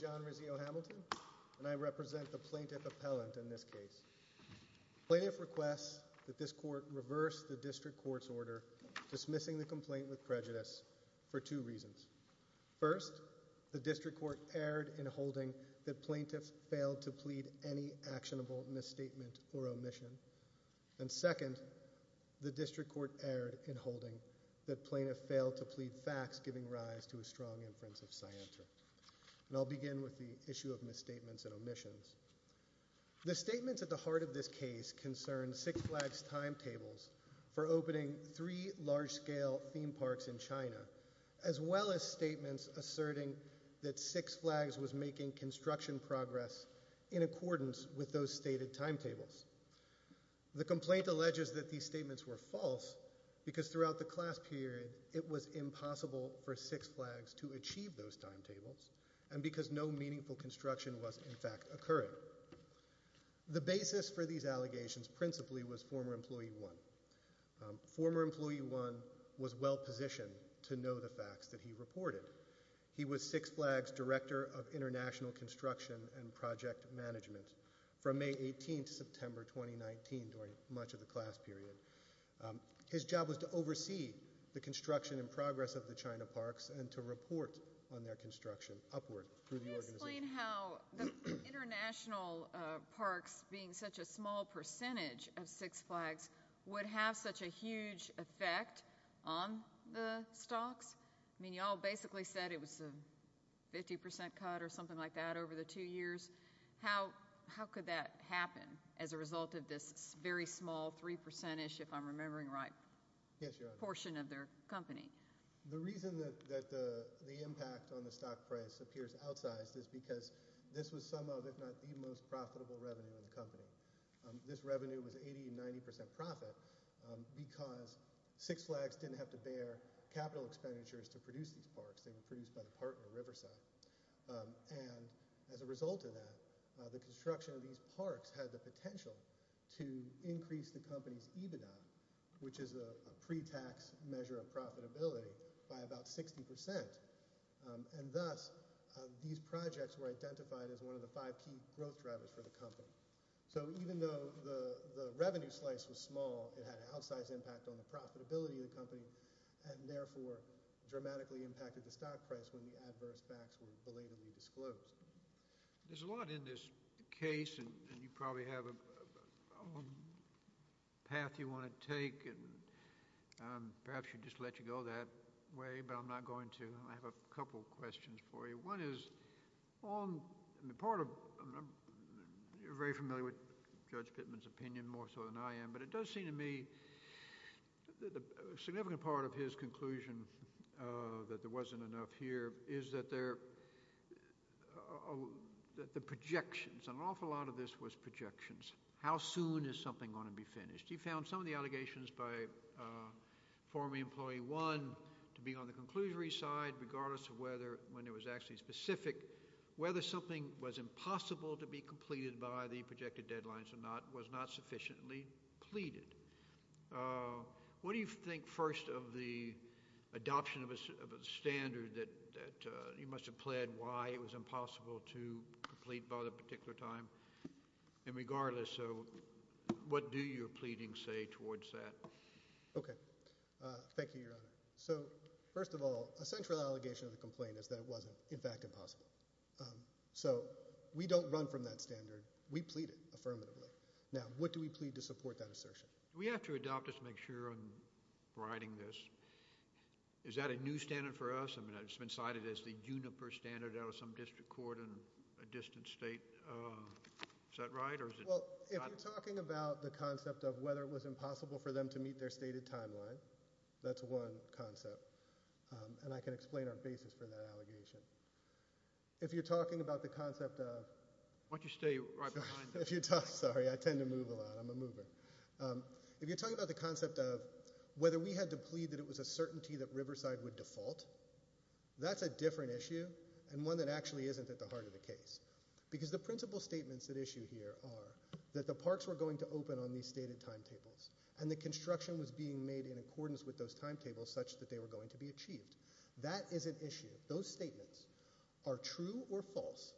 John Rizzio-Hamilton Plaintiff Appellant The District Court erred in holding that Plaintiff failed to plead facts, giving rise to a strong inference of scienter. I'll begin with the issue of misstatements and omissions. The statements at the heart of this case concern Six Flags' timetables for opening three large-scale theme parks in China, as well as statements asserting that Six Flags was making construction progress in accordance with those stated timetables. The complaint alleges that these statements were false, because throughout the class period, it was impossible for Six Flags to achieve those timetables, and because no meaningful construction was in fact occurring. The basis for these allegations, principally, was former Employee One. Former Employee One was well-positioned to know the facts that he reported. He was Six Flags' Director of International Construction and Project Management from May 18 to September 2019, during much of the class period. His job was to oversee the construction and progress of the China parks and to report on their construction upward through the organization. Can you explain how the international parks, being such a small percentage of Six Flags, would have such a huge effect on the stocks? I mean, you all basically said it was a 50% cut or something like that over the two years. How could that happen as a result of this very small 3%, if I'm remembering right, portion of their company? The reason that the impact on the stock price appears outsized is because this was some of, if not the most profitable revenue of the company. This revenue was 80% and 90% profit because Six Flags didn't have to bear capital expenditures to produce these parks. They were produced by the partner, Riverside. As a result of that, the construction of these parks had the potential to increase the company's EBITDA, which is a pre-tax measure of profitability, by about 60%. And thus, these projects were identified as one of the five key growth drivers for the company. So even though the revenue slice was small, it had an outsized impact on the profitability of the company and therefore dramatically impacted the stock price when the adverse facts were belatedly disclosed. There's a lot in this case, and you probably have a path you want to take. Perhaps I should just let you go that way, but I'm not going to. I have a couple of questions for you. One is, you're very familiar with Judge Pittman's opinion more so than I am, but it does seem to me that a significant part of his conclusion that there wasn't enough here is that the projections, and an awful lot of this was projections. How soon is something going to be finished? He found some of the allegations by former employee one to be on the conclusory side, regardless of whether, when it was actually specific, whether something was impossible to be completed by the projected deadlines or not, was not sufficiently pleaded. What do you think, first, of the adoption of a standard that you must have pled why it was impossible to complete by that particular time? And regardless, what do your pleadings say towards that? Okay. Thank you, Your Honor. So, first of all, a central allegation of the complaint is that it wasn't, in fact, impossible. So, we don't run from that standard. We plead it affirmatively. Now, what do we plead to support that assertion? We have to adopt it to make sure I'm riding this. Is that a new standard for us? I mean, it's been cited as the juniper standard out of some district court in a distant state. Is that right? Well, if you're talking about the concept of whether it was impossible for them to meet their stated timeline, that's one concept, and I can explain our basis for that allegation. If you're talking about the concept of— Why don't you stay right behind me? I'm a mover. If you're talking about the concept of whether we had to plead that it was a certainty that Riverside would default, that's a different issue and one that actually isn't at the heart of the case because the principal statements at issue here are that the parks were going to open on these stated timetables and the construction was being made in accordance with those timetables such that they were going to be achieved. That is an issue. Those statements are true or false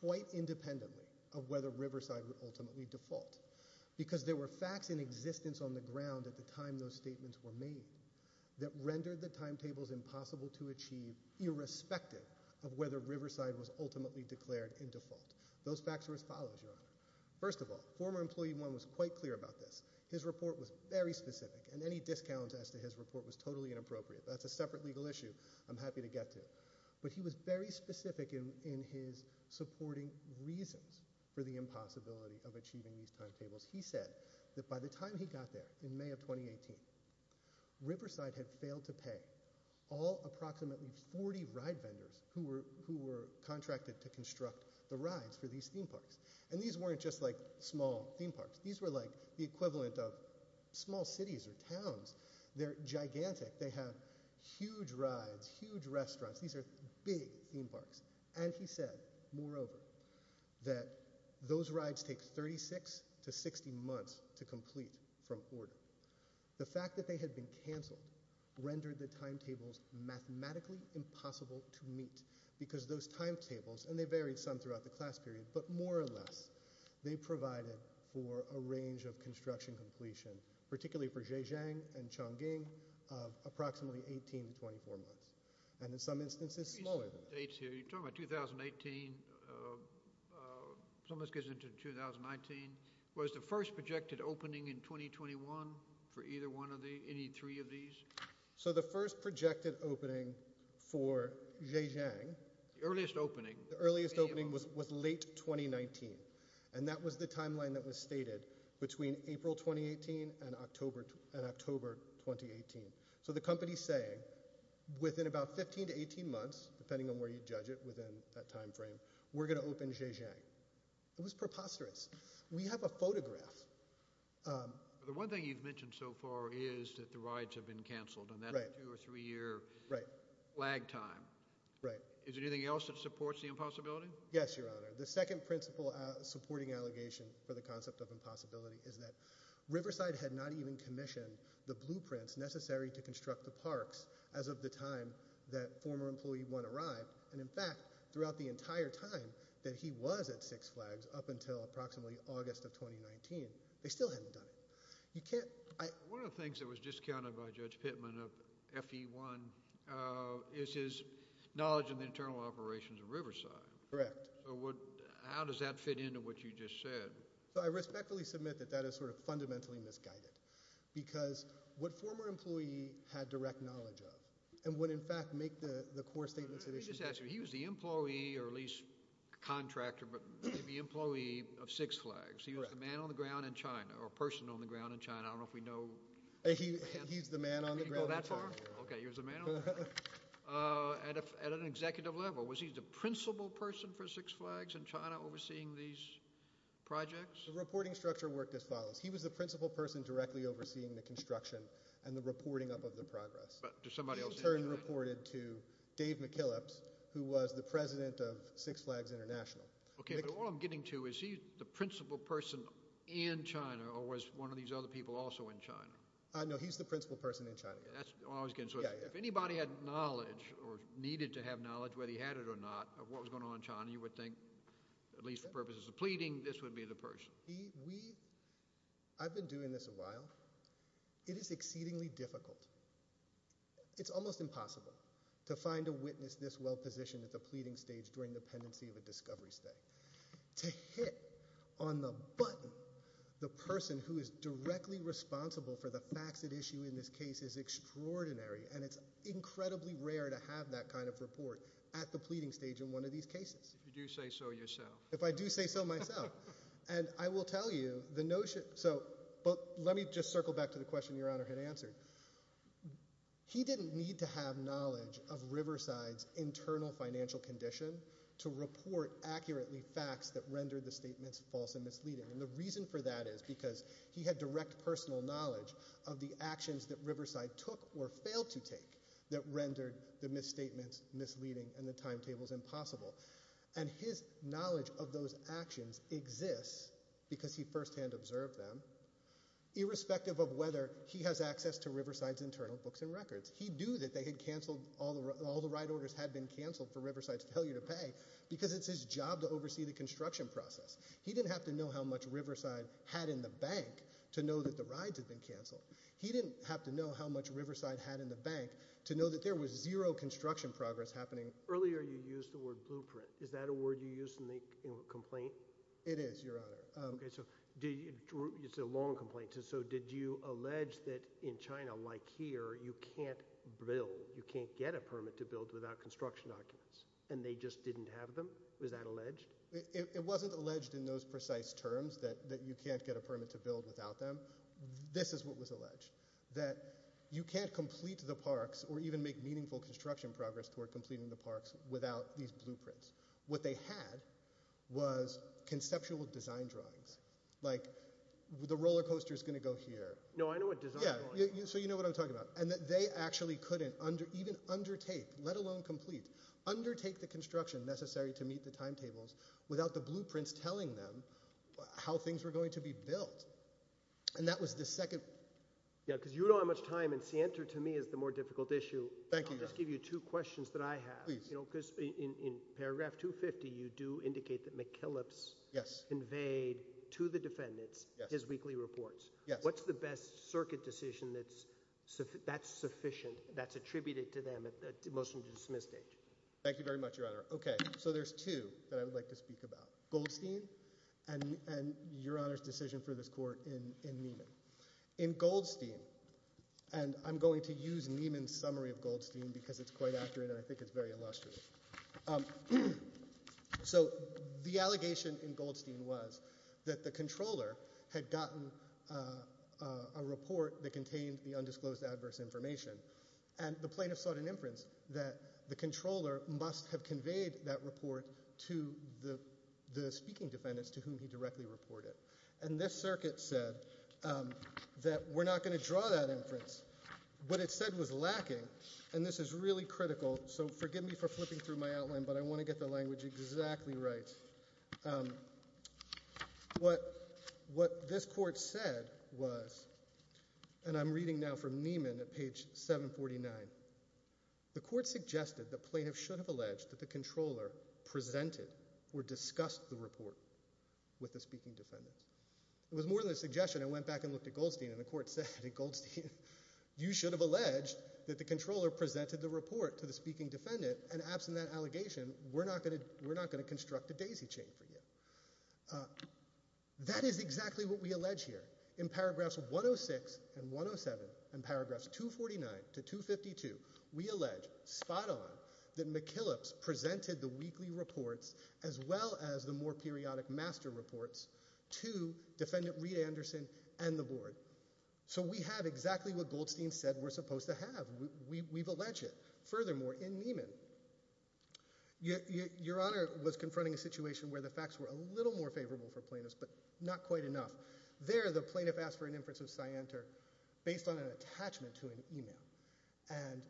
quite independently of whether Riverside would ultimately default because there were facts in existence on the ground at the time those statements were made that rendered the timetables impossible to achieve irrespective of whether Riverside was ultimately declared in default. Those facts were as follows, Your Honor. First of all, former employee one was quite clear about this. His report was very specific and any discounts as to his report was totally inappropriate. That's a separate legal issue. I'm happy to get to it. But he was very specific in his supporting reasons for the impossibility of achieving these timetables. He said that by the time he got there in May of 2018, Riverside had failed to pay all approximately 40 ride vendors who were contracted to construct the rides for these theme parks. And these weren't just like small theme parks. These were like the equivalent of small cities or towns. They're gigantic. They have huge rides, huge restaurants. These are big theme parks. And he said, moreover, that those rides take 36 to 60 months to complete from order. The fact that they had been canceled rendered the timetables mathematically impossible to meet because those timetables, and they varied some throughout the class period, but more or less they provided for a range of construction completion, particularly for Zhejiang and Chongqing, of approximately 18 to 24 months. And in some instances smaller than that. You're talking about 2018. Some of this gets into 2019. Was the first projected opening in 2021 for either one of these, any three of these? So the first projected opening for Zhejiang. The earliest opening. The earliest opening was late 2019. And that was the timeline that was stated between April 2018 and October 2018. So the company is saying within about 15 to 18 months, depending on where you judge it within that timeframe, we're going to open Zhejiang. It was preposterous. We have a photograph. The one thing you've mentioned so far is that the rides have been canceled. And that's a two or three-year lag time. Is there anything else that supports the impossibility? Yes, Your Honor. The second principle supporting allegation for the concept of impossibility is that Riverside had not even commissioned the blueprints necessary to construct the parks as of the time that former employee one arrived. And, in fact, throughout the entire time that he was at Six Flags up until approximately August of 2019, they still hadn't done it. One of the things that was discounted by Judge Pittman of FE1 is his knowledge of the internal operations of Riverside. Correct. How does that fit into what you just said? I respectfully submit that that is sort of fundamentally misguided because what former employee had direct knowledge of and would, in fact, make the core statements of issue. Let me just ask you. He was the employee or at least contractor, but the employee of Six Flags. He was the man on the ground in China or person on the ground in China. I don't know if we know. He's the man on the ground in China. Okay. He was the man on the ground. At an executive level. Was he the principal person for Six Flags in China overseeing these projects? The reporting structure worked as follows. He was the principal person directly overseeing the construction and the reporting up of the progress. He, in turn, reported to Dave McKillips, who was the president of Six Flags International. Okay, but all I'm getting to is he's the principal person in China or was one of these other people also in China? No, he's the principal person in China. If anybody had knowledge or needed to have knowledge, whether he had it or not, of what was going on in China, you would think, at least for purposes of pleading, this would be the person. I've been doing this a while. It is exceedingly difficult. It's almost impossible to find a witness this well-positioned at the pleading stage during the pendency of a discovery study. To hit on the button the person who is directly responsible for the facts at issue in this case is extraordinary. And it's incredibly rare to have that kind of report at the pleading stage in one of these cases. If you do say so yourself. If I do say so myself. And I will tell you the notion. So, let me just circle back to the question Your Honor had answered. He didn't need to have knowledge of Riverside's internal financial condition to report accurately facts that rendered the statements false and misleading. And the reason for that is because he had direct personal knowledge of the actions that Riverside took or failed to take that rendered the misstatements misleading and the timetables impossible. And his knowledge of those actions exists because he first-hand observed them. Irrespective of whether he has access to Riverside's internal books and records. He knew that they had cancelled, all the ride orders had been cancelled for Riverside's failure to pay because it's his job to oversee the construction process. He didn't have to know how much Riverside had in the bank to know that the rides had been cancelled. He didn't have to know how much Riverside had in the bank to know that there was zero construction progress happening. Earlier you used the word blueprint. Is that a word you used in the complaint? It is, Your Honor. It's a long complaint. So, did you allege that in China, like here, you can't build, you can't get a permit to build without construction documents? And they just didn't have them? Was that alleged? It wasn't alleged in those precise terms that you can't get a permit to build without them. This is what was alleged. That you can't complete the parks or even make meaningful construction progress toward completing the parks without these blueprints. What they had was conceptual design drawings. Like, the roller coaster is going to go here. No, I know what design drawings are. Yeah, so you know what I'm talking about. And they actually couldn't even undertake, let alone complete, undertake the construction necessary to meet the timetables without the blueprints telling them how things were going to be built. And that was the second. Yeah, because you don't have much time, and scienter to me is the more difficult issue. Thank you, Your Honor. I'll just give you two questions that I have. Please. Because in paragraph 250, you do indicate that McKillop's conveyed to the defendants his weekly reports. Yes. What's the best circuit decision that's sufficient, that's attributed to them at the motion to dismiss stage? Thank you very much, Your Honor. Okay, so there's two that I would like to speak about. Goldstein and Your Honor's decision for this court in Neiman. In Goldstein, and I'm going to use Neiman's summary of Goldstein because it's quite accurate and I think it's very illustrious. So the allegation in Goldstein was that the controller had gotten a report that contained the undisclosed adverse information. And the plaintiff sought an inference that the controller must have conveyed that report to the speaking defendants to whom he directly reported. And this circuit said that we're not going to draw that inference. What it said was lacking. And this is really critical. So forgive me for flipping through my outline, but I want to get the language exactly right. What this court said was, and I'm reading now from Neiman at page 749. The court suggested the plaintiff should have alleged that the controller presented or discussed the report with the speaking defendants. It was more than a suggestion. It went back and looked at Goldstein and the court said in Goldstein, you should have alleged that the controller presented the report to the speaking defendant. And absent that allegation, we're not going to construct a daisy chain for you. That is exactly what we allege here. In paragraphs 106 and 107 and paragraphs 249 to 252, we allege spot on that McKillips presented the weekly reports as well as the more periodic master reports to defendant Reed Anderson and the board. So we have exactly what Goldstein said we're supposed to have. We've alleged it. Furthermore, in Neiman, your Honor was confronting a situation where the facts were a little more favorable for plaintiffs, but not quite enough. There, the plaintiff asked for an inference of scienter based on an attachment to an email. And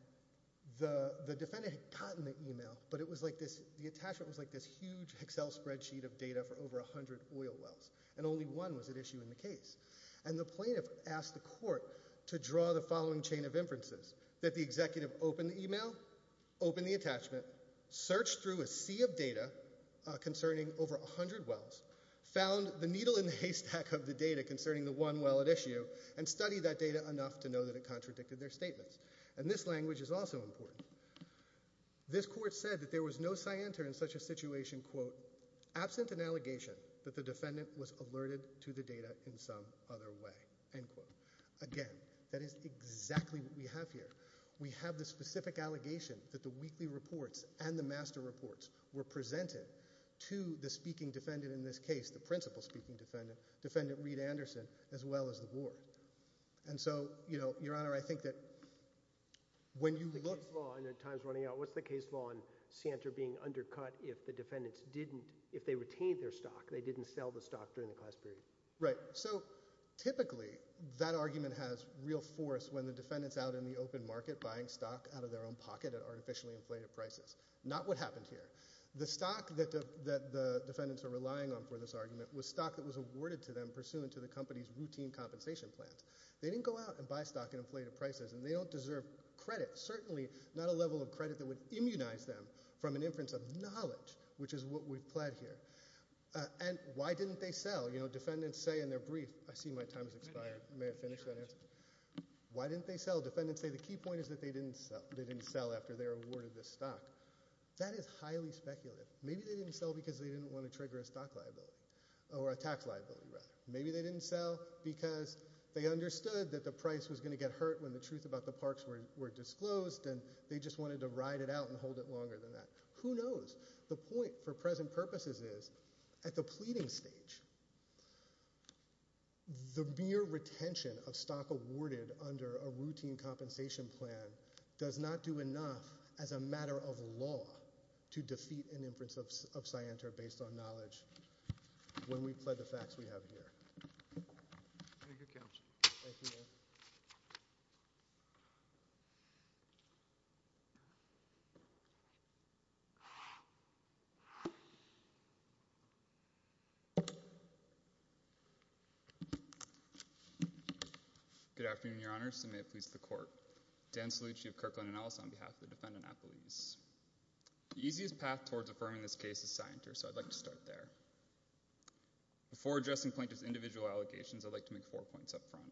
the defendant had gotten the email, but it was like this, the attachment was like this huge Excel spreadsheet of data for over 100 oil wells. And only one was at issue in the case. And the plaintiff asked the court to draw the following chain of inferences. That the executive opened the email, opened the attachment, searched through a sea of data concerning over 100 wells, found the needle in the haystack of the data concerning the one well at issue, and studied that data enough to know that it contradicted their statements. And this language is also important. This court said that there was no scienter in such a situation, quote, absent an allegation that the defendant was alerted to the data in some other way, end quote. Again, that is exactly what we have here. We have the specific allegation that the weekly reports and the master reports were presented to the speaking defendant in this case, the principal speaking defendant, defendant Reed Anderson, as well as the board. And so, you know, your honor, I think that when you look… What's the case law, and time's running out. What's the case law on scienter being undercut if the defendants didn't, if they retained their stock, they didn't sell the stock during the class period? Right. So, typically, that argument has real force when the defendant's out in the open market buying stock out of their own pocket at artificially inflated prices. Not what happened here. The stock that the defendants are relying on for this argument was stock that was awarded to them pursuant to the company's routine compensation plans. They didn't go out and buy stock at inflated prices, and they don't deserve credit. Certainly not a level of credit that would immunize them from an inference of knowledge, which is what we've pled here. And why didn't they sell? You know, defendants say in their brief, I see my time has expired. May I finish that answer? Why didn't they sell? Defendants say the key point is that they didn't sell. They didn't sell after they were awarded this stock. That is highly speculative. Maybe they didn't sell because they didn't want to trigger a stock liability, or a tax liability, rather. Maybe they didn't sell because they understood that the price was going to get hurt when the truth about the parks were disclosed, and they just wanted to ride it out and hold it longer than that. Who knows? The point, for present purposes, is at the pleading stage, the mere retention of stock awarded under a routine compensation plan does not do enough as a matter of law to defeat an inference of scienter based on knowledge when we've pled the facts we have here. Thank you, Counsel. Thank you. Good afternoon, Your Honors, and may it please the Court. Dan Salucci of Kirkland & Ellis on behalf of the defendant, Applebee's. The easiest path towards affirming this case is scienter, so I'd like to start there. Before addressing plaintiff's individual allegations, I'd like to make four points up front,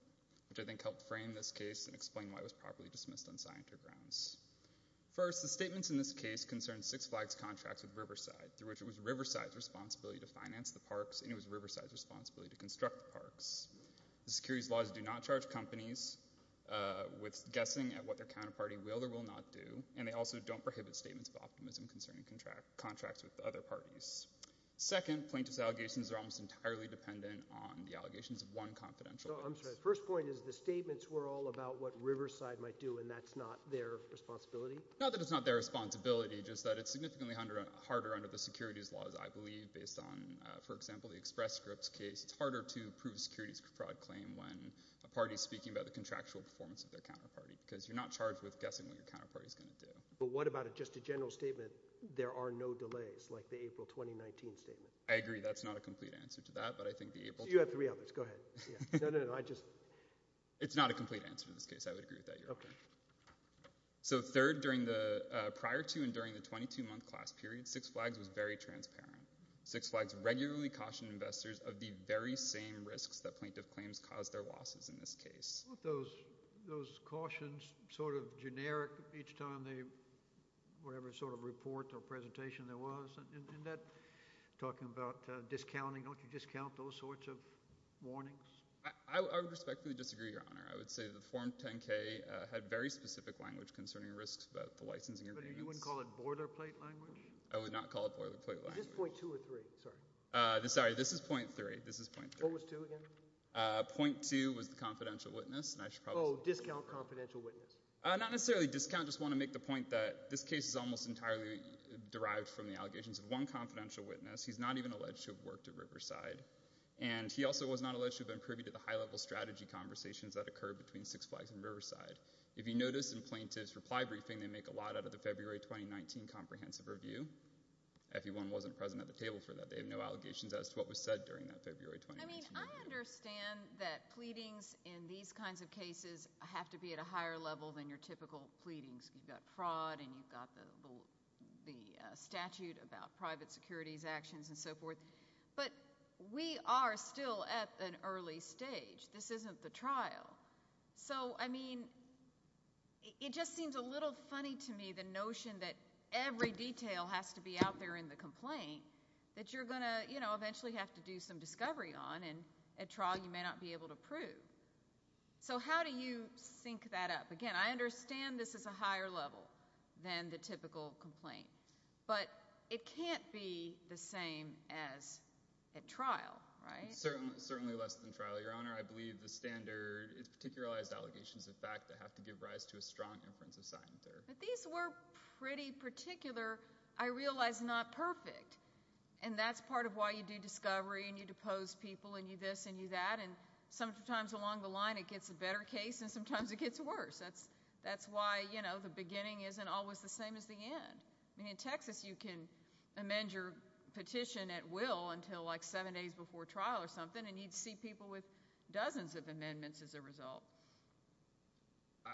which I think help frame this case and explain why it was properly dismissed on scienter grounds. First, the statements in this case concern Six Flags' contracts with Riverside, through which it was Riverside's responsibility to finance the parks, and it was Riverside's responsibility to construct the parks. The securities laws do not charge companies with guessing at what their counterparty will or will not do, and they also don't prohibit statements of optimism concerning contracts with other parties. Second, plaintiff's allegations are almost entirely dependent on the allegations of one confidential case. No, I'm sorry. The first point is the statements were all about what Riverside might do, and that's not their responsibility? Not that it's not their responsibility, just that it's significantly harder under the securities laws, I believe, based on, for example, the Express Scripts case. It's harder to prove a securities fraud claim when a party is speaking about the contractual performance of their counterparty because you're not charged with guessing what your counterparty is going to do. But what about just a general statement, there are no delays, like the April 2019 statement? I agree. That's not a complete answer to that, but I think the April— You have three others. Go ahead. No, no, no. I just— It's not a complete answer to this case. I would agree with that, Your Honor. Okay. So third, prior to and during the 22-month class period, Six Flags was very transparent. Six Flags regularly cautioned investors of the very same risks that plaintiff claims cause their losses in this case. Aren't those cautions sort of generic each time they—whatever sort of report or presentation there was? Isn't that talking about discounting? Don't you discount those sorts of warnings? I would respectfully disagree, Your Honor. I would say the Form 10-K had very specific language concerning risks about the licensing agreements. But you wouldn't call it boilerplate language? I would not call it boilerplate language. Is this .2 or .3? Sorry. Sorry, this is .3. This is .3. What was .2 again? .2 was the confidential witness, and I should probably— Oh, discount confidential witness. Not necessarily discount. I just want to make the point that this case is almost entirely derived from the allegations of one confidential witness. He's not even alleged to have worked at Riverside, and he also was not alleged to have been privy to the high-level strategy conversations that occurred between Six Flags and Riverside. If you notice in plaintiff's reply briefing, they make a lot out of the February 2019 comprehensive review. FE1 wasn't present at the table for that. They have no allegations as to what was said during that February 2019. I mean, I understand that pleadings in these kinds of cases have to be at a higher level than your typical pleadings. You've got fraud, and you've got the statute about private securities actions and so forth. But we are still at an early stage. This isn't the trial. So, I mean, it just seems a little funny to me the notion that every detail has to be out there in the complaint that you're going to, you know, eventually have to do some discovery on, and at trial you may not be able to prove. So how do you sync that up? Again, I understand this is a higher level than the typical complaint, but it can't be the same as at trial, right? It's certainly less than trial, Your Honor. I believe the standard is particularized allegations of fact that have to give rise to a strong inference of scientific error. But these were pretty particular, I realize not perfect. And that's part of why you do discovery and you depose people and you this and you that. And sometimes along the line it gets a better case and sometimes it gets worse. That's why, you know, the beginning isn't always the same as the end. I mean, in Texas you can amend your petition at will until like seven days before trial or something, and you'd see people with dozens of amendments as a result.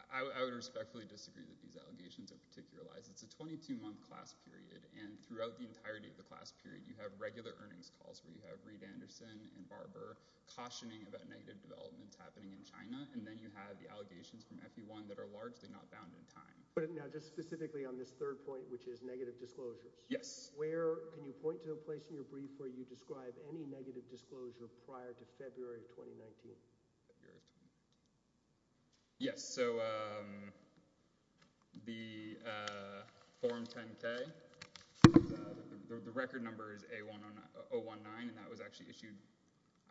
I would respectfully disagree that these allegations are particularized. It's a 22-month class period, and throughout the entirety of the class period you have regular earnings calls where you have Reed Anderson and Barber cautioning about negative developments happening in China, and then you have the allegations from FE1 that are largely not bound in time. But now just specifically on this third point, which is negative disclosures. Yes. Where can you point to a place in your brief where you describe any negative disclosure prior to February of 2019? Yes. So the Form 10-K, the record number is A1019, and that was actually issued.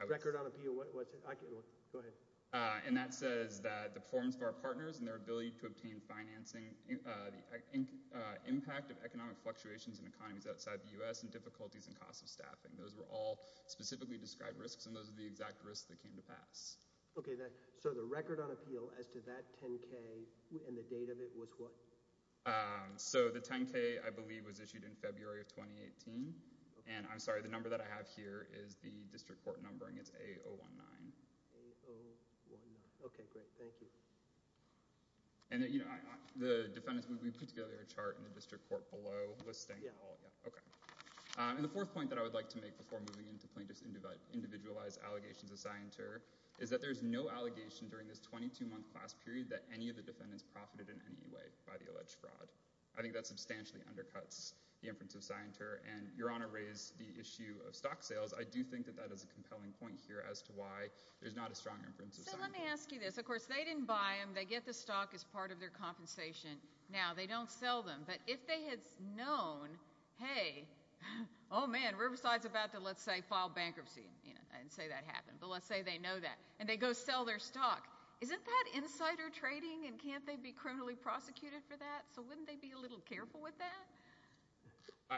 Record on appeal. Go ahead. And that says that the performance of our partners and their ability to obtain financing, the impact of economic fluctuations in economies outside the U.S. and difficulties in cost of staffing, those were all specifically described risks, and those are the exact risks that came to pass. Okay. So the record on appeal as to that 10-K and the date of it was what? So the 10-K, I believe, was issued in February of 2018. And I'm sorry, the number that I have here is the district court numbering. It's A019. A019. Okay, great. Thank you. And the defendants, we put together a chart in the district court below listing. Yeah. Okay. And the fourth point that I would like to make before moving into plaintiffs' individualized allegations of scienter is that there's no allegation during this 22-month class period that any of the defendants profited in any way by the alleged fraud. I think that substantially undercuts the inference of scienter, and Your Honor raised the issue of stock sales. I do think that that is a compelling point here as to why there's not a strong inference of scienter. So let me ask you this. Of course, they didn't buy them. They get the stock as part of their compensation. Now, they don't sell them. But if they had known, hey, oh, man, Riverside's about to, let's say, file bankruptcy. I didn't say that happened, but let's say they know that. And they go sell their stock. Isn't that insider trading, and can't they be criminally prosecuted for that? So wouldn't they be a little careful with that?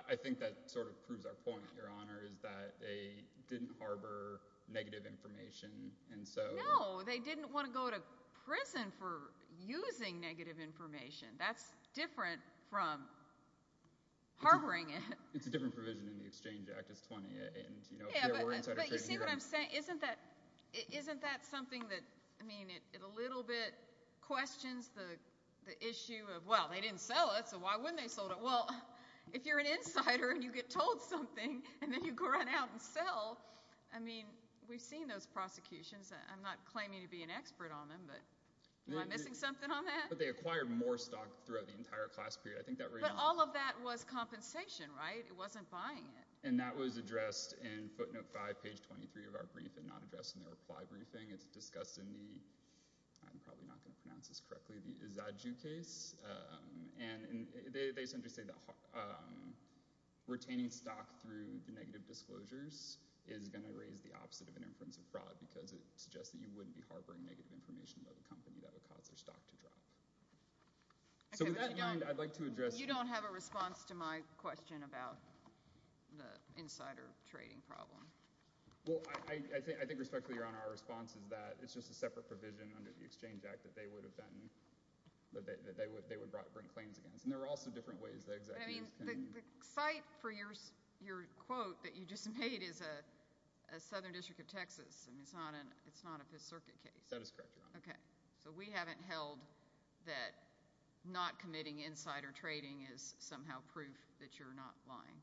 I think that sort of proves our point, Your Honor, is that they didn't harbor negative information. No, they didn't want to go to prison for using negative information. That's different from harboring it. It's a different provision in the Exchange Act. It's 20. Yeah, but you see what I'm saying? Isn't that something that, I mean, it a little bit questions the issue of, well, they didn't sell it, so why wouldn't they have sold it? Well, if you're an insider and you get told something and then you go right out and sell, I mean, we've seen those prosecutions. I'm not claiming to be an expert on them, but am I missing something on that? But they acquired more stock throughout the entire class period. But all of that was compensation, right? It wasn't buying it. And that was addressed in footnote 5, page 23 of our brief and not addressed in the reply briefing. It's discussed in the – I'm probably not going to pronounce this correctly – the Zaju case. And they essentially say that retaining stock through the negative disclosures is going to raise the opposite of an inference of fraud because it suggests that you wouldn't be harboring negative information about the company that would cause their stock to drop. So with that in mind, I'd like to address – You don't have a response to my question about the insider trading problem. Well, I think respectfully, Your Honor, our response is that it's just a separate provision under the Exchange Act that they would have been – that they would bring claims against. And there are also different ways that executives can – The cite for your quote that you just made is a southern district of Texas, and it's not a Fifth Circuit case. That is correct, Your Honor. Okay. So we haven't held that not committing insider trading is somehow proof that you're not lying.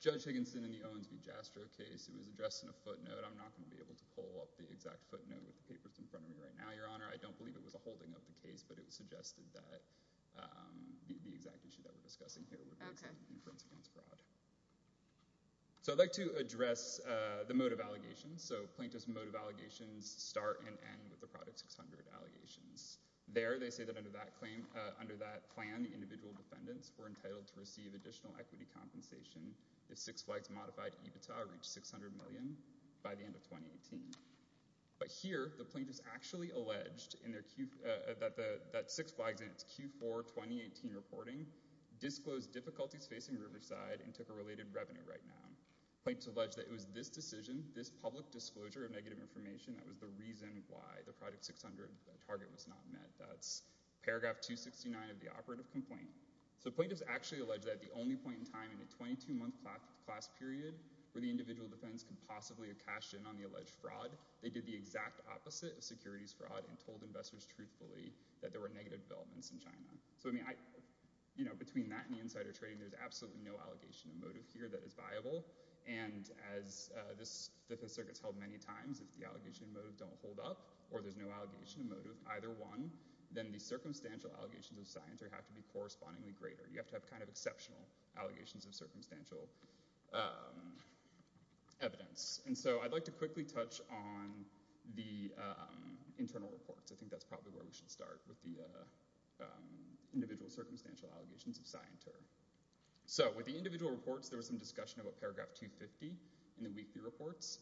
Judge Higginson in the Owens v. Jastrow case, it was addressed in a footnote. I'm not going to be able to pull up the exact footnote with the papers in front of me right now, Your Honor. I don't believe it was a holding of the case, but it was suggested that the exact issue that we're discussing here would be inference against fraud. So I'd like to address the motive allegations. So plaintiff's motive allegations start and end with the Product 600 allegations. There they say that under that plan, the individual defendants were entitled to receive additional equity compensation if Six Flags modified EBITDA reached $600 million by the end of 2018. But here the plaintiff's actually alleged that Six Flags in its Q4 2018 reporting disclosed difficulties facing Riverside and took a related revenue right now. Plaintiff's alleged that it was this decision, this public disclosure of negative information that was the reason why the Product 600 target was not met. That's paragraph 269 of the operative complaint. So plaintiff's actually alleged that at the only point in time in a 22-month class period where the individual defendants could possibly have cashed in on the alleged fraud, they did the exact opposite of securities fraud and told investors truthfully that there were negative developments in China. So between that and the insider trading, there's absolutely no allegation of motive here that is viable. And as this circuit's held many times, if the allegation of motive don't hold up or there's no allegation of motive, either one, then the circumstantial allegations of scienter have to be correspondingly greater. You have to have kind of exceptional allegations of circumstantial evidence. And so I'd like to quickly touch on the internal reports. I think that's probably where we should start with the individual circumstantial allegations of scienter. So with the individual reports, there was some discussion about paragraph 250 in the weekly reports.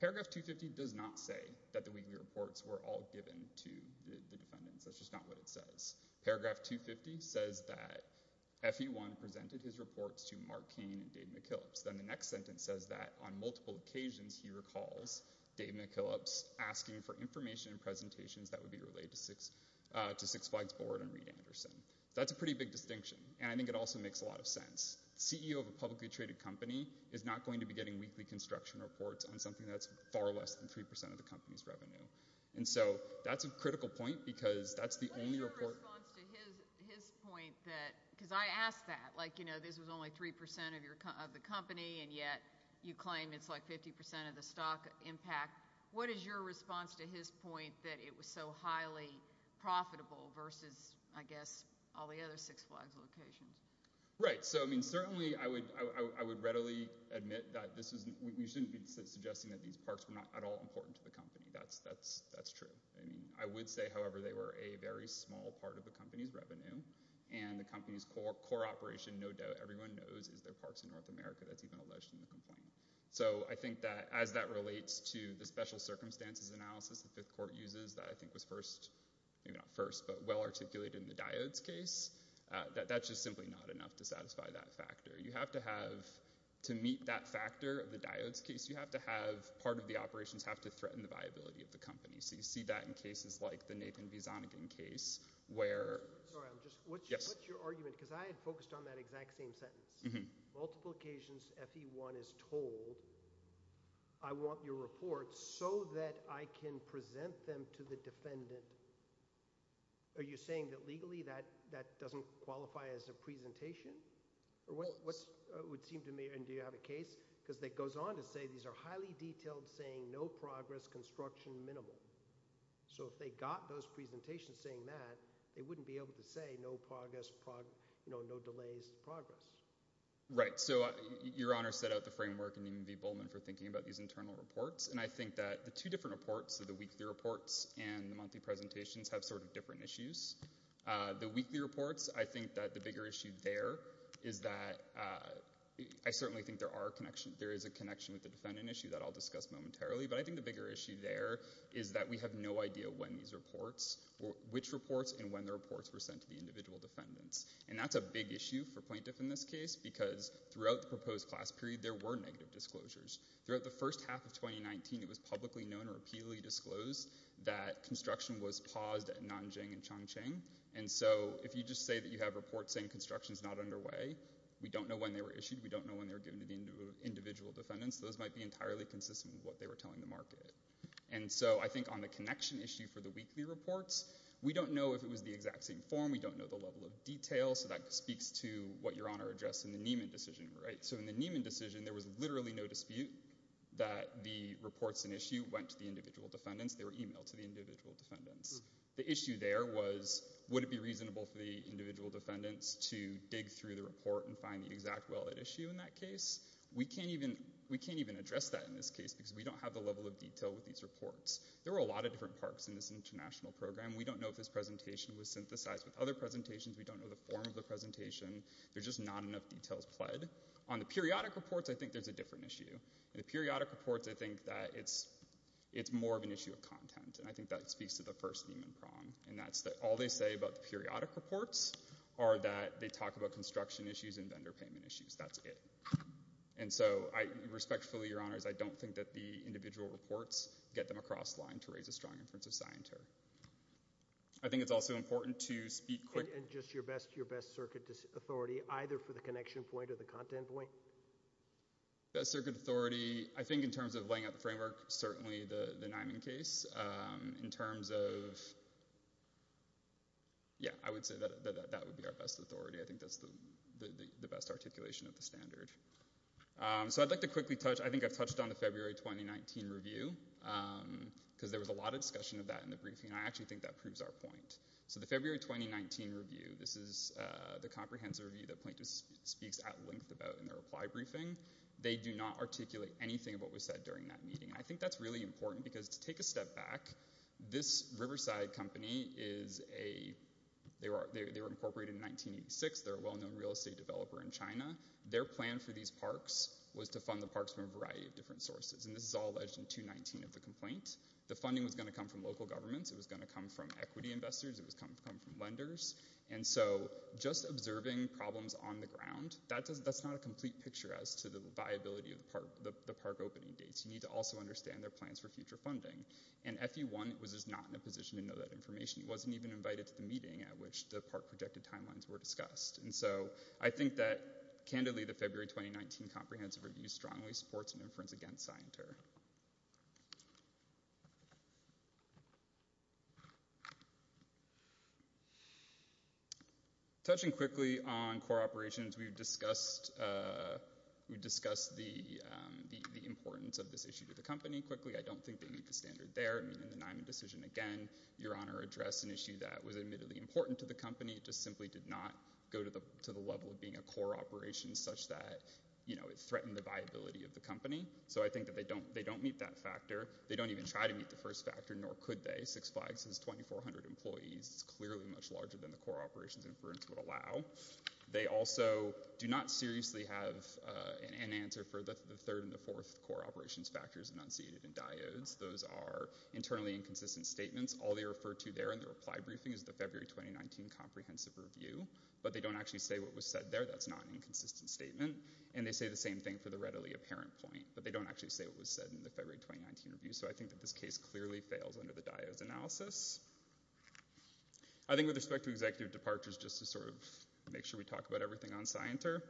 Paragraph 250 does not say that the weekly reports were all given to the defendants. That's just not what it says. Paragraph 250 says that FE1 presented his reports to Mark Kane and Dave McKillop. Then the next sentence says that on multiple occasions he recalls Dave McKillop asking for information and presentations that would be related to Six Flags Board and Reed Anderson. That's a pretty big distinction. And I think it also makes a lot of sense. The CEO of a publicly traded company is not going to be getting weekly construction reports on something that's far less than 3% of the company's revenue. And so that's a critical point because that's the only report. What is your response to his point? Because I asked that. Like, you know, this was only 3% of the company, and yet you claim it's like 50% of the stock impact. What is your response to his point that it was so highly profitable versus, I guess, all the other Six Flags locations? Right. So, I mean, certainly I would readily admit that we shouldn't be suggesting that these parks were not at all important to the company. That's true. I mean, I would say, however, they were a very small part of the company's revenue. And the company's core operation, no doubt everyone knows, is their parks in North America. That's even alleged in the complaint. So I think that as that relates to the special circumstances analysis the Fifth Court uses that I think was first, maybe not first, but well articulated in the Diodes case, that that's just simply not enough to satisfy that factor. You have to have – to meet that factor of the Diodes case, you have to have – part of the operations have to threaten the viability of the company. So you see that in cases like the Nathan V. Zonigan case where – Sorry, I'm just – what's your argument? Because I had focused on that exact same sentence. Multiple occasions FE1 is told, I want your report so that I can present them to the defendant. Are you saying that legally that doesn't qualify as a presentation? Or what would seem to me – and do you have a case? Because it goes on to say these are highly detailed saying no progress, construction minimal. So if they got those presentations saying that, they wouldn't be able to say no progress, no delays, progress. Right. So Your Honor set out the framework in Nathan V. Bowman for thinking about these internal reports. And I think that the two different reports, the weekly reports and the monthly presentations have sort of different issues. The weekly reports, I think that the bigger issue there is that – I certainly think there are connections. There is a connection with the defendant issue that I'll discuss momentarily. But I think the bigger issue there is that we have no idea when these reports – which reports and when the reports were sent to the individual defendants. And that's a big issue for plaintiff in this case because throughout the proposed class period, there were negative disclosures. Throughout the first half of 2019, it was publicly known or repeatedly disclosed that construction was paused at Nanjing and Chongqing. And so if you just say that you have reports saying construction is not underway, we don't know when they were issued. We don't know when they were given to the individual defendants. Those might be entirely consistent with what they were telling the market. And so I think on the connection issue for the weekly reports, we don't know if it was the exact same form. We don't know the level of detail. So that speaks to what Your Honor addressed in the Nieman decision. So in the Nieman decision, there was literally no dispute that the reports and issue went to the individual defendants. They were emailed to the individual defendants. The issue there was would it be reasonable for the individual defendants to dig through the report and find the exact well-lit issue in that case? We can't even address that in this case because we don't have the level of detail with these reports. There were a lot of different parts in this international program. We don't know if this presentation was synthesized with other presentations. We don't know the form of the presentation. There's just not enough details pled. On the periodic reports, I think there's a different issue. In the periodic reports, I think that it's more of an issue of content. And I think that speaks to the first Nieman prong. And that's that all they say about the periodic reports are that they talk about construction issues and vendor payment issues. That's it. And so I respectfully, Your Honors, I don't think that the individual reports get them across the line to raise a strong inference of scientific. I think it's also important to speak quickly. And just your best circuit authority, either for the connection point or the content point? Best circuit authority, I think in terms of laying out the framework, certainly the Nieman case. In terms of, yeah, I would say that would be our best authority. I think that's the best articulation of the standard. So I'd like to quickly touch. I think I've touched on the February 2019 review, because there was a lot of discussion of that in the briefing. And I actually think that proves our point. So the February 2019 review, this is the comprehensive review that plaintiff speaks at length about in their reply briefing. They do not articulate anything of what was said during that meeting. And I think that's really important, because to take a step back, this Riverside company, they were incorporated in 1986. They're a well-known real estate developer in China. Their plan for these parks was to fund the parks from a variety of different sources. And this is all alleged in 219 of the complaint. The funding was going to come from local governments. It was going to come from equity investors. It was going to come from lenders. And so just observing problems on the ground, that's not a complete picture as to the viability of the park opening dates. You need to also understand their plans for future funding. And FE1 was just not in a position to know that information. It wasn't even invited to the meeting at which the park projected timelines were discussed. And so I think that, candidly, the February 2019 comprehensive review strongly supports an inference against Scienter. Touching quickly on core operations, we've discussed the importance of this issue to the company. Quickly, I don't think they meet the standard there. In the Niman decision, again, Your Honor addressed an issue that was admittedly important to the company. It just simply did not go to the level of being a core operation such that, you know, it threatened the viability of the company. So I think that they don't meet that factor. They don't even try to meet the first factor, nor could they. Six Flags has 2,400 employees. It's clearly much larger than the core operations inference would allow. They also do not seriously have an answer for the third and the fourth core operations factors enunciated in diodes. Those are internally inconsistent statements. All they refer to there in the reply briefing is the February 2019 comprehensive review. But they don't actually say what was said there. That's not an inconsistent statement. And they say the same thing for the readily apparent point. But they don't actually say what was said in the February 2019 review. So I think that this case clearly fails under the diodes analysis. I think with respect to executive departures, just to sort of make sure we talk about everything on SciENter,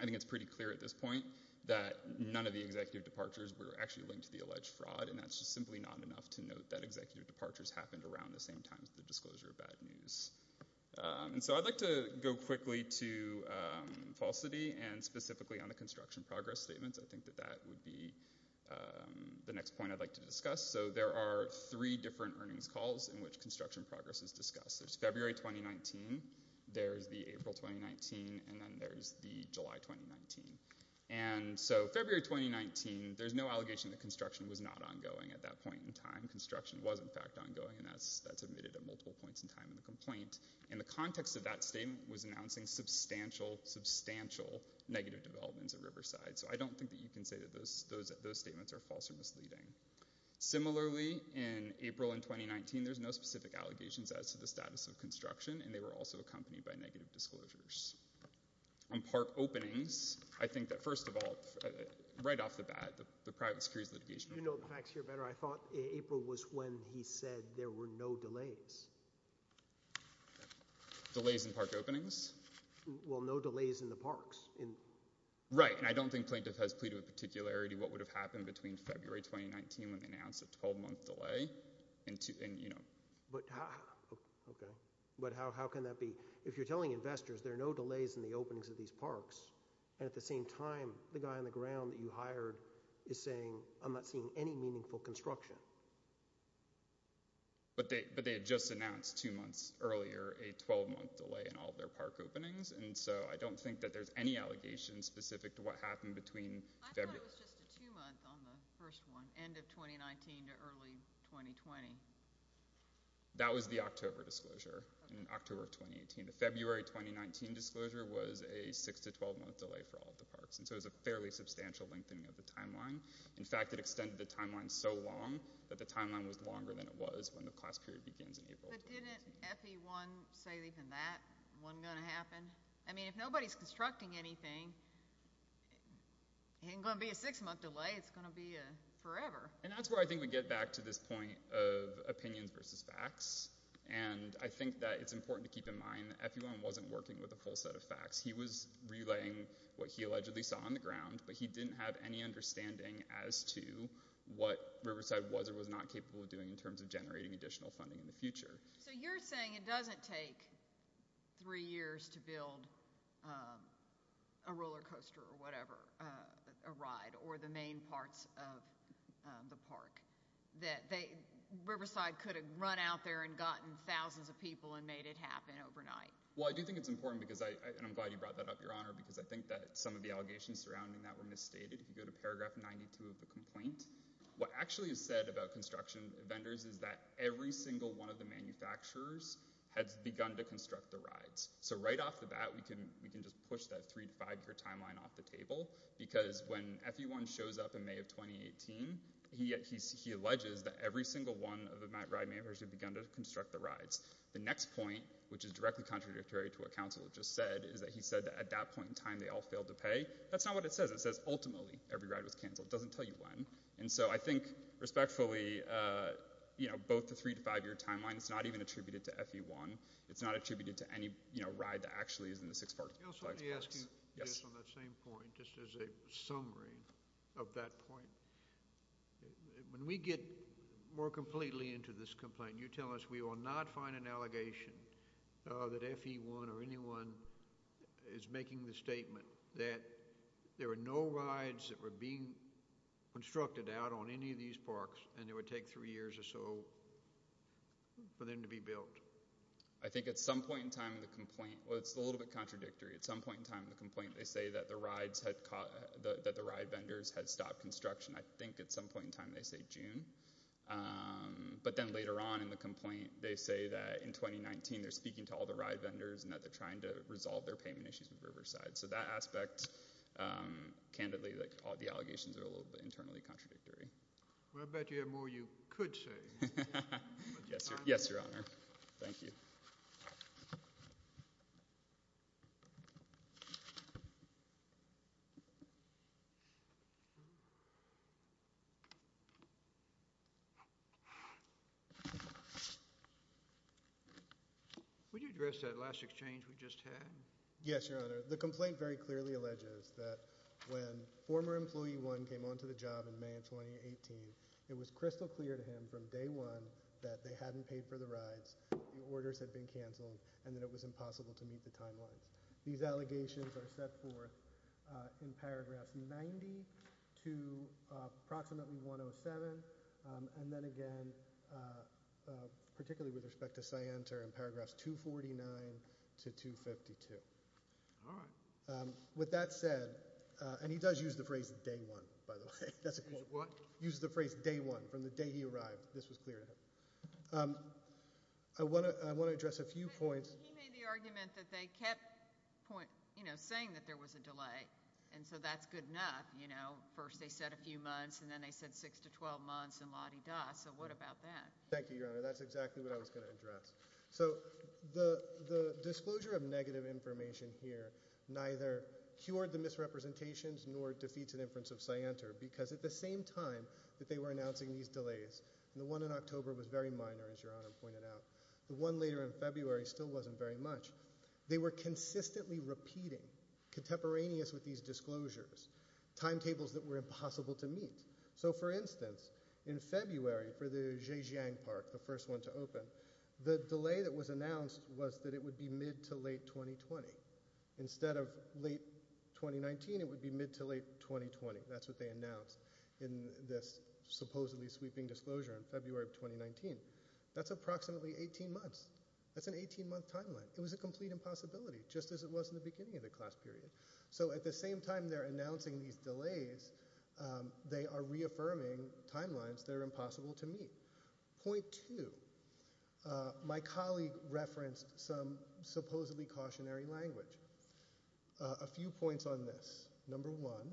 I think it's pretty clear at this point that none of the executive departures were actually linked to the alleged fraud. And that's just simply not enough to note that executive departures happened around the same time as the disclosure of bad news. And so I'd like to go quickly to falsity and specifically on the construction progress statements. I think that that would be the next point I'd like to discuss. So there are three different earnings calls in which construction progress is discussed. There's February 2019, there's the April 2019, and then there's the July 2019. And so February 2019, there's no allegation that construction was not ongoing at that point in time. Construction was, in fact, ongoing, and that's admitted at multiple points in time in the complaint. And the context of that statement was announcing substantial, substantial negative developments at Riverside. So I don't think that you can say that those statements are false or misleading. Similarly, in April in 2019, there's no specific allegations as to the status of construction, and they were also accompanied by negative disclosures. On park openings, I think that first of all, right off the bat, the private securities litigation. You know the facts here better. I thought April was when he said there were no delays. Delays in park openings? Well, no delays in the parks. Right, and I don't think Plaintiff has pleaded with particularity what would have happened between February 2019 when they announced a 12-month delay. But how can that be? If you're telling investors there are no delays in the openings of these parks, and at the same time, the guy on the ground that you hired is saying, I'm not seeing any meaningful construction. But they had just announced two months earlier a 12-month delay in all their park openings, and so I don't think that there's any allegations specific to what happened between February— I thought it was just a two-month on the first one, end of 2019 to early 2020. That was the October disclosure, in October of 2018. The February 2019 disclosure was a 6- to 12-month delay for all the parks, and so it was a fairly substantial lengthening of the timeline. In fact, it extended the timeline so long that the timeline was longer than it was when the class period begins in April. But didn't FE1 say even that wasn't going to happen? I mean, if nobody's constructing anything, it ain't going to be a 6-month delay. It's going to be forever. And that's where I think we get back to this point of opinions versus facts, and I think that it's important to keep in mind that FE1 wasn't working with a full set of facts. He was relaying what he allegedly saw on the ground, but he didn't have any understanding as to what Riverside was or was not capable of doing in terms of generating additional funding in the future. So you're saying it doesn't take three years to build a roller coaster or whatever, a ride, or the main parts of the park, that Riverside could have run out there and gotten thousands of people and made it happen overnight? Well, I do think it's important, and I'm glad you brought that up, Your Honor, because I think that some of the allegations surrounding that were misstated. If you go to paragraph 92 of the complaint, what actually is said about construction vendors is that every single one of the manufacturers has begun to construct the rides. So right off the bat, we can just push that 3- to 5-year timeline off the table, because when FE1 shows up in May of 2018, he alleges that every single one of the ride makers have begun to construct the rides. The next point, which is directly contradictory to what counsel just said, is that he said that at that point in time they all failed to pay. That's not what it says. It says ultimately every ride was canceled. It doesn't tell you when. And so I think respectfully, both the 3- to 5-year timeline is not even attributed to FE1. It's not attributed to any ride that actually is in the six parks. I also want to ask you this on that same point, just as a summary of that point. When we get more completely into this complaint, you tell us we will not find an allegation that FE1 or anyone is making the statement that there were no rides that were being constructed out on any of these parks, and it would take three years or so for them to be built. I think at some point in time in the complaint – well, it's a little bit contradictory. At some point in time in the complaint they say that the ride vendors had stopped construction. I think at some point in time they say June. But then later on in the complaint they say that in 2019 they're speaking to all the ride vendors and that they're trying to resolve their payment issues with Riverside. So that aspect, candidly, all the allegations are a little bit internally contradictory. Well, I bet you have more you could say. Yes, Your Honor. Thank you. Would you address that last exchange we just had? Yes, Your Honor. The complaint very clearly alleges that when former employee one came onto the job in May of 2018, it was crystal clear to him from day one that they hadn't paid for the rides, the orders had been canceled, and that it was impossible to meet the timelines. These allegations are set forth in paragraphs 90 to approximately 107, and then again, particularly with respect to Scienter, in paragraphs 249 to 252. All right. With that said – and he does use the phrase day one, by the way. What? Uses the phrase day one, from the day he arrived. This was clear to him. I want to address a few points. He made the argument that they kept saying that there was a delay, and so that's good enough. First they said a few months, and then they said six to 12 months, and la-di-da. So what about that? Thank you, Your Honor. That's exactly what I was going to address. So the disclosure of negative information here neither cured the misrepresentations nor defeats an inference of Scienter because at the same time that they were announcing these delays, and the one in October was very minor, as Your Honor pointed out, the one later in February still wasn't very much, they were consistently repeating, contemporaneous with these disclosures, timetables that were impossible to meet. So, for instance, in February for the Zhejiang Park, the first one to open, the delay that was announced was that it would be mid to late 2020. Instead of late 2019, it would be mid to late 2020. That's what they announced in this supposedly sweeping disclosure in February of 2019. That's approximately 18 months. That's an 18-month timeline. It was a complete impossibility, just as it was in the beginning of the class period. So at the same time they're announcing these delays, they are reaffirming timelines that are impossible to meet. Point two. My colleague referenced some supposedly cautionary language. A few points on this. Number one,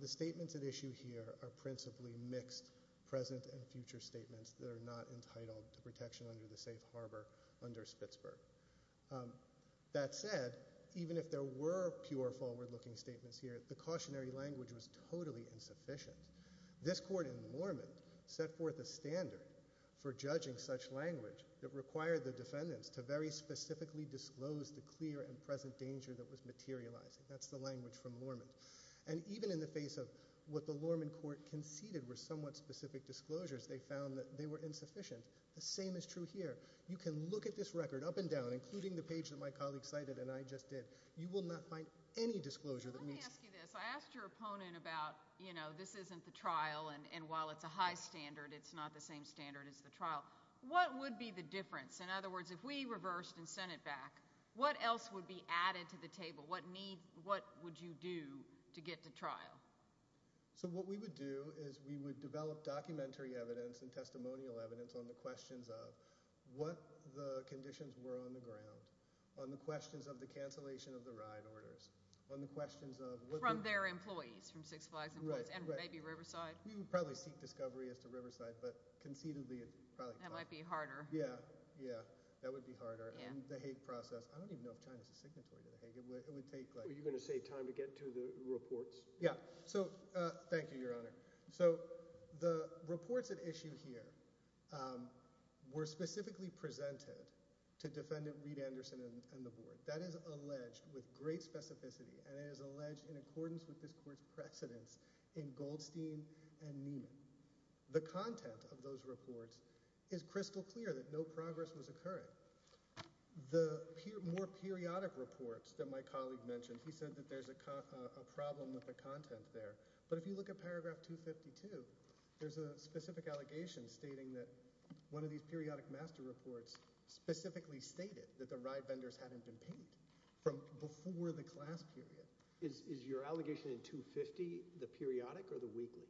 the statements at issue here are principally mixed present and future statements that are not entitled to protection under the safe harbor under Spitzberg. That said, even if there were pure forward-looking statements here, the cautionary language was totally insufficient. This court in Lormont set forth a standard for judging such language that required the defendants to very specifically disclose the clear and present danger that was materializing. That's the language from Lormont. And even in the face of what the Lormont court conceded were somewhat specific disclosures, they found that they were insufficient. The same is true here. You can look at this record up and down, including the page that my colleague cited and I just did. You will not find any disclosure that meets. Let me ask you this. I asked your opponent about, you know, this isn't the trial, and while it's a high standard, it's not the same standard as the trial. What would be the difference? In other words, if we reversed and sent it back, what else would be added to the table? What would you do to get to trial? So what we would do is we would develop documentary evidence and testimonial evidence on the questions of what the conditions were on the ground, on the questions of the cancellation of the ride orders, on the questions of what the- From their employees, from Six Flags employees and maybe Riverside. We would probably seek discovery as to Riverside, but conceivably it probably- That might be harder. Yeah, yeah, that would be harder. And the Hague process, I don't even know if China is a signatory to the Hague. It would take like- Are you going to say time to get to the reports? Yeah. So thank you, Your Honor. So the reports at issue here were specifically presented to Defendant Reed Anderson and the board. That is alleged with great specificity, and it is alleged in accordance with this court's precedence in Goldstein and Neiman. The content of those reports is crystal clear that no progress was occurring. The more periodic reports that my colleague mentioned, he said that there's a problem with the content there. But if you look at paragraph 252, there's a specific allegation stating that one of these periodic master reports specifically stated that the ride vendors hadn't been paid from before the class period. Is your allegation in 250 the periodic or the weekly?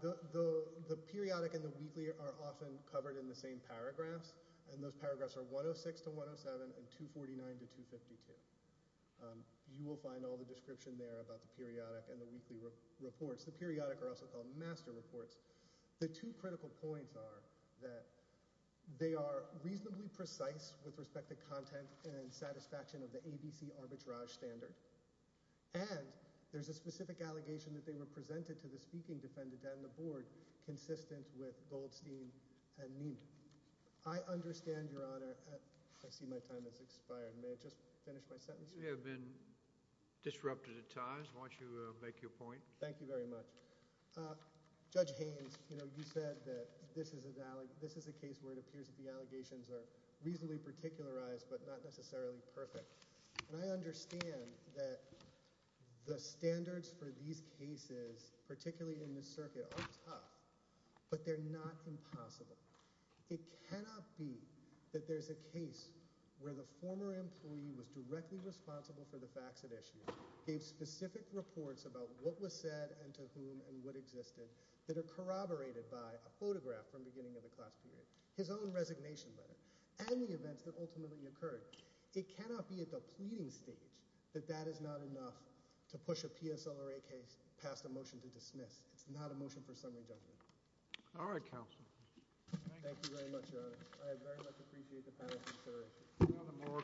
The periodic and the weekly are often covered in the same paragraphs, and those paragraphs are 106 to 107 and 249 to 252. You will find all the description there about the periodic and the weekly reports. The periodic are also called master reports. The two critical points are that they are reasonably precise with respect to content and satisfaction of the ABC arbitrage standard, and there's a specific allegation that they were presented to the speaking defendant and the board consistent with Goldstein and Neiman. I understand, Your Honor. I see my time has expired. May I just finish my sentence? You have been disrupted at times. Why don't you make your point? Thank you very much. Judge Haynes, you said that this is a case where it appears that the allegations are reasonably particularized but not necessarily perfect. I understand that the standards for these cases, particularly in this circuit, are tough, but they're not impossible. It cannot be that there's a case where the former employee was directly responsible for the facts at issue, gave specific reports about what was said and to whom and what existed that are corroborated by a photograph from the beginning of the class period, his own resignation letter, and the events that ultimately occurred. It cannot be at the pleading stage that that is not enough to push a PSLRA case past a motion to dismiss. It's not a motion for summary judgment. All right, counsel. Thank you very much, Your Honor. I very much appreciate the time.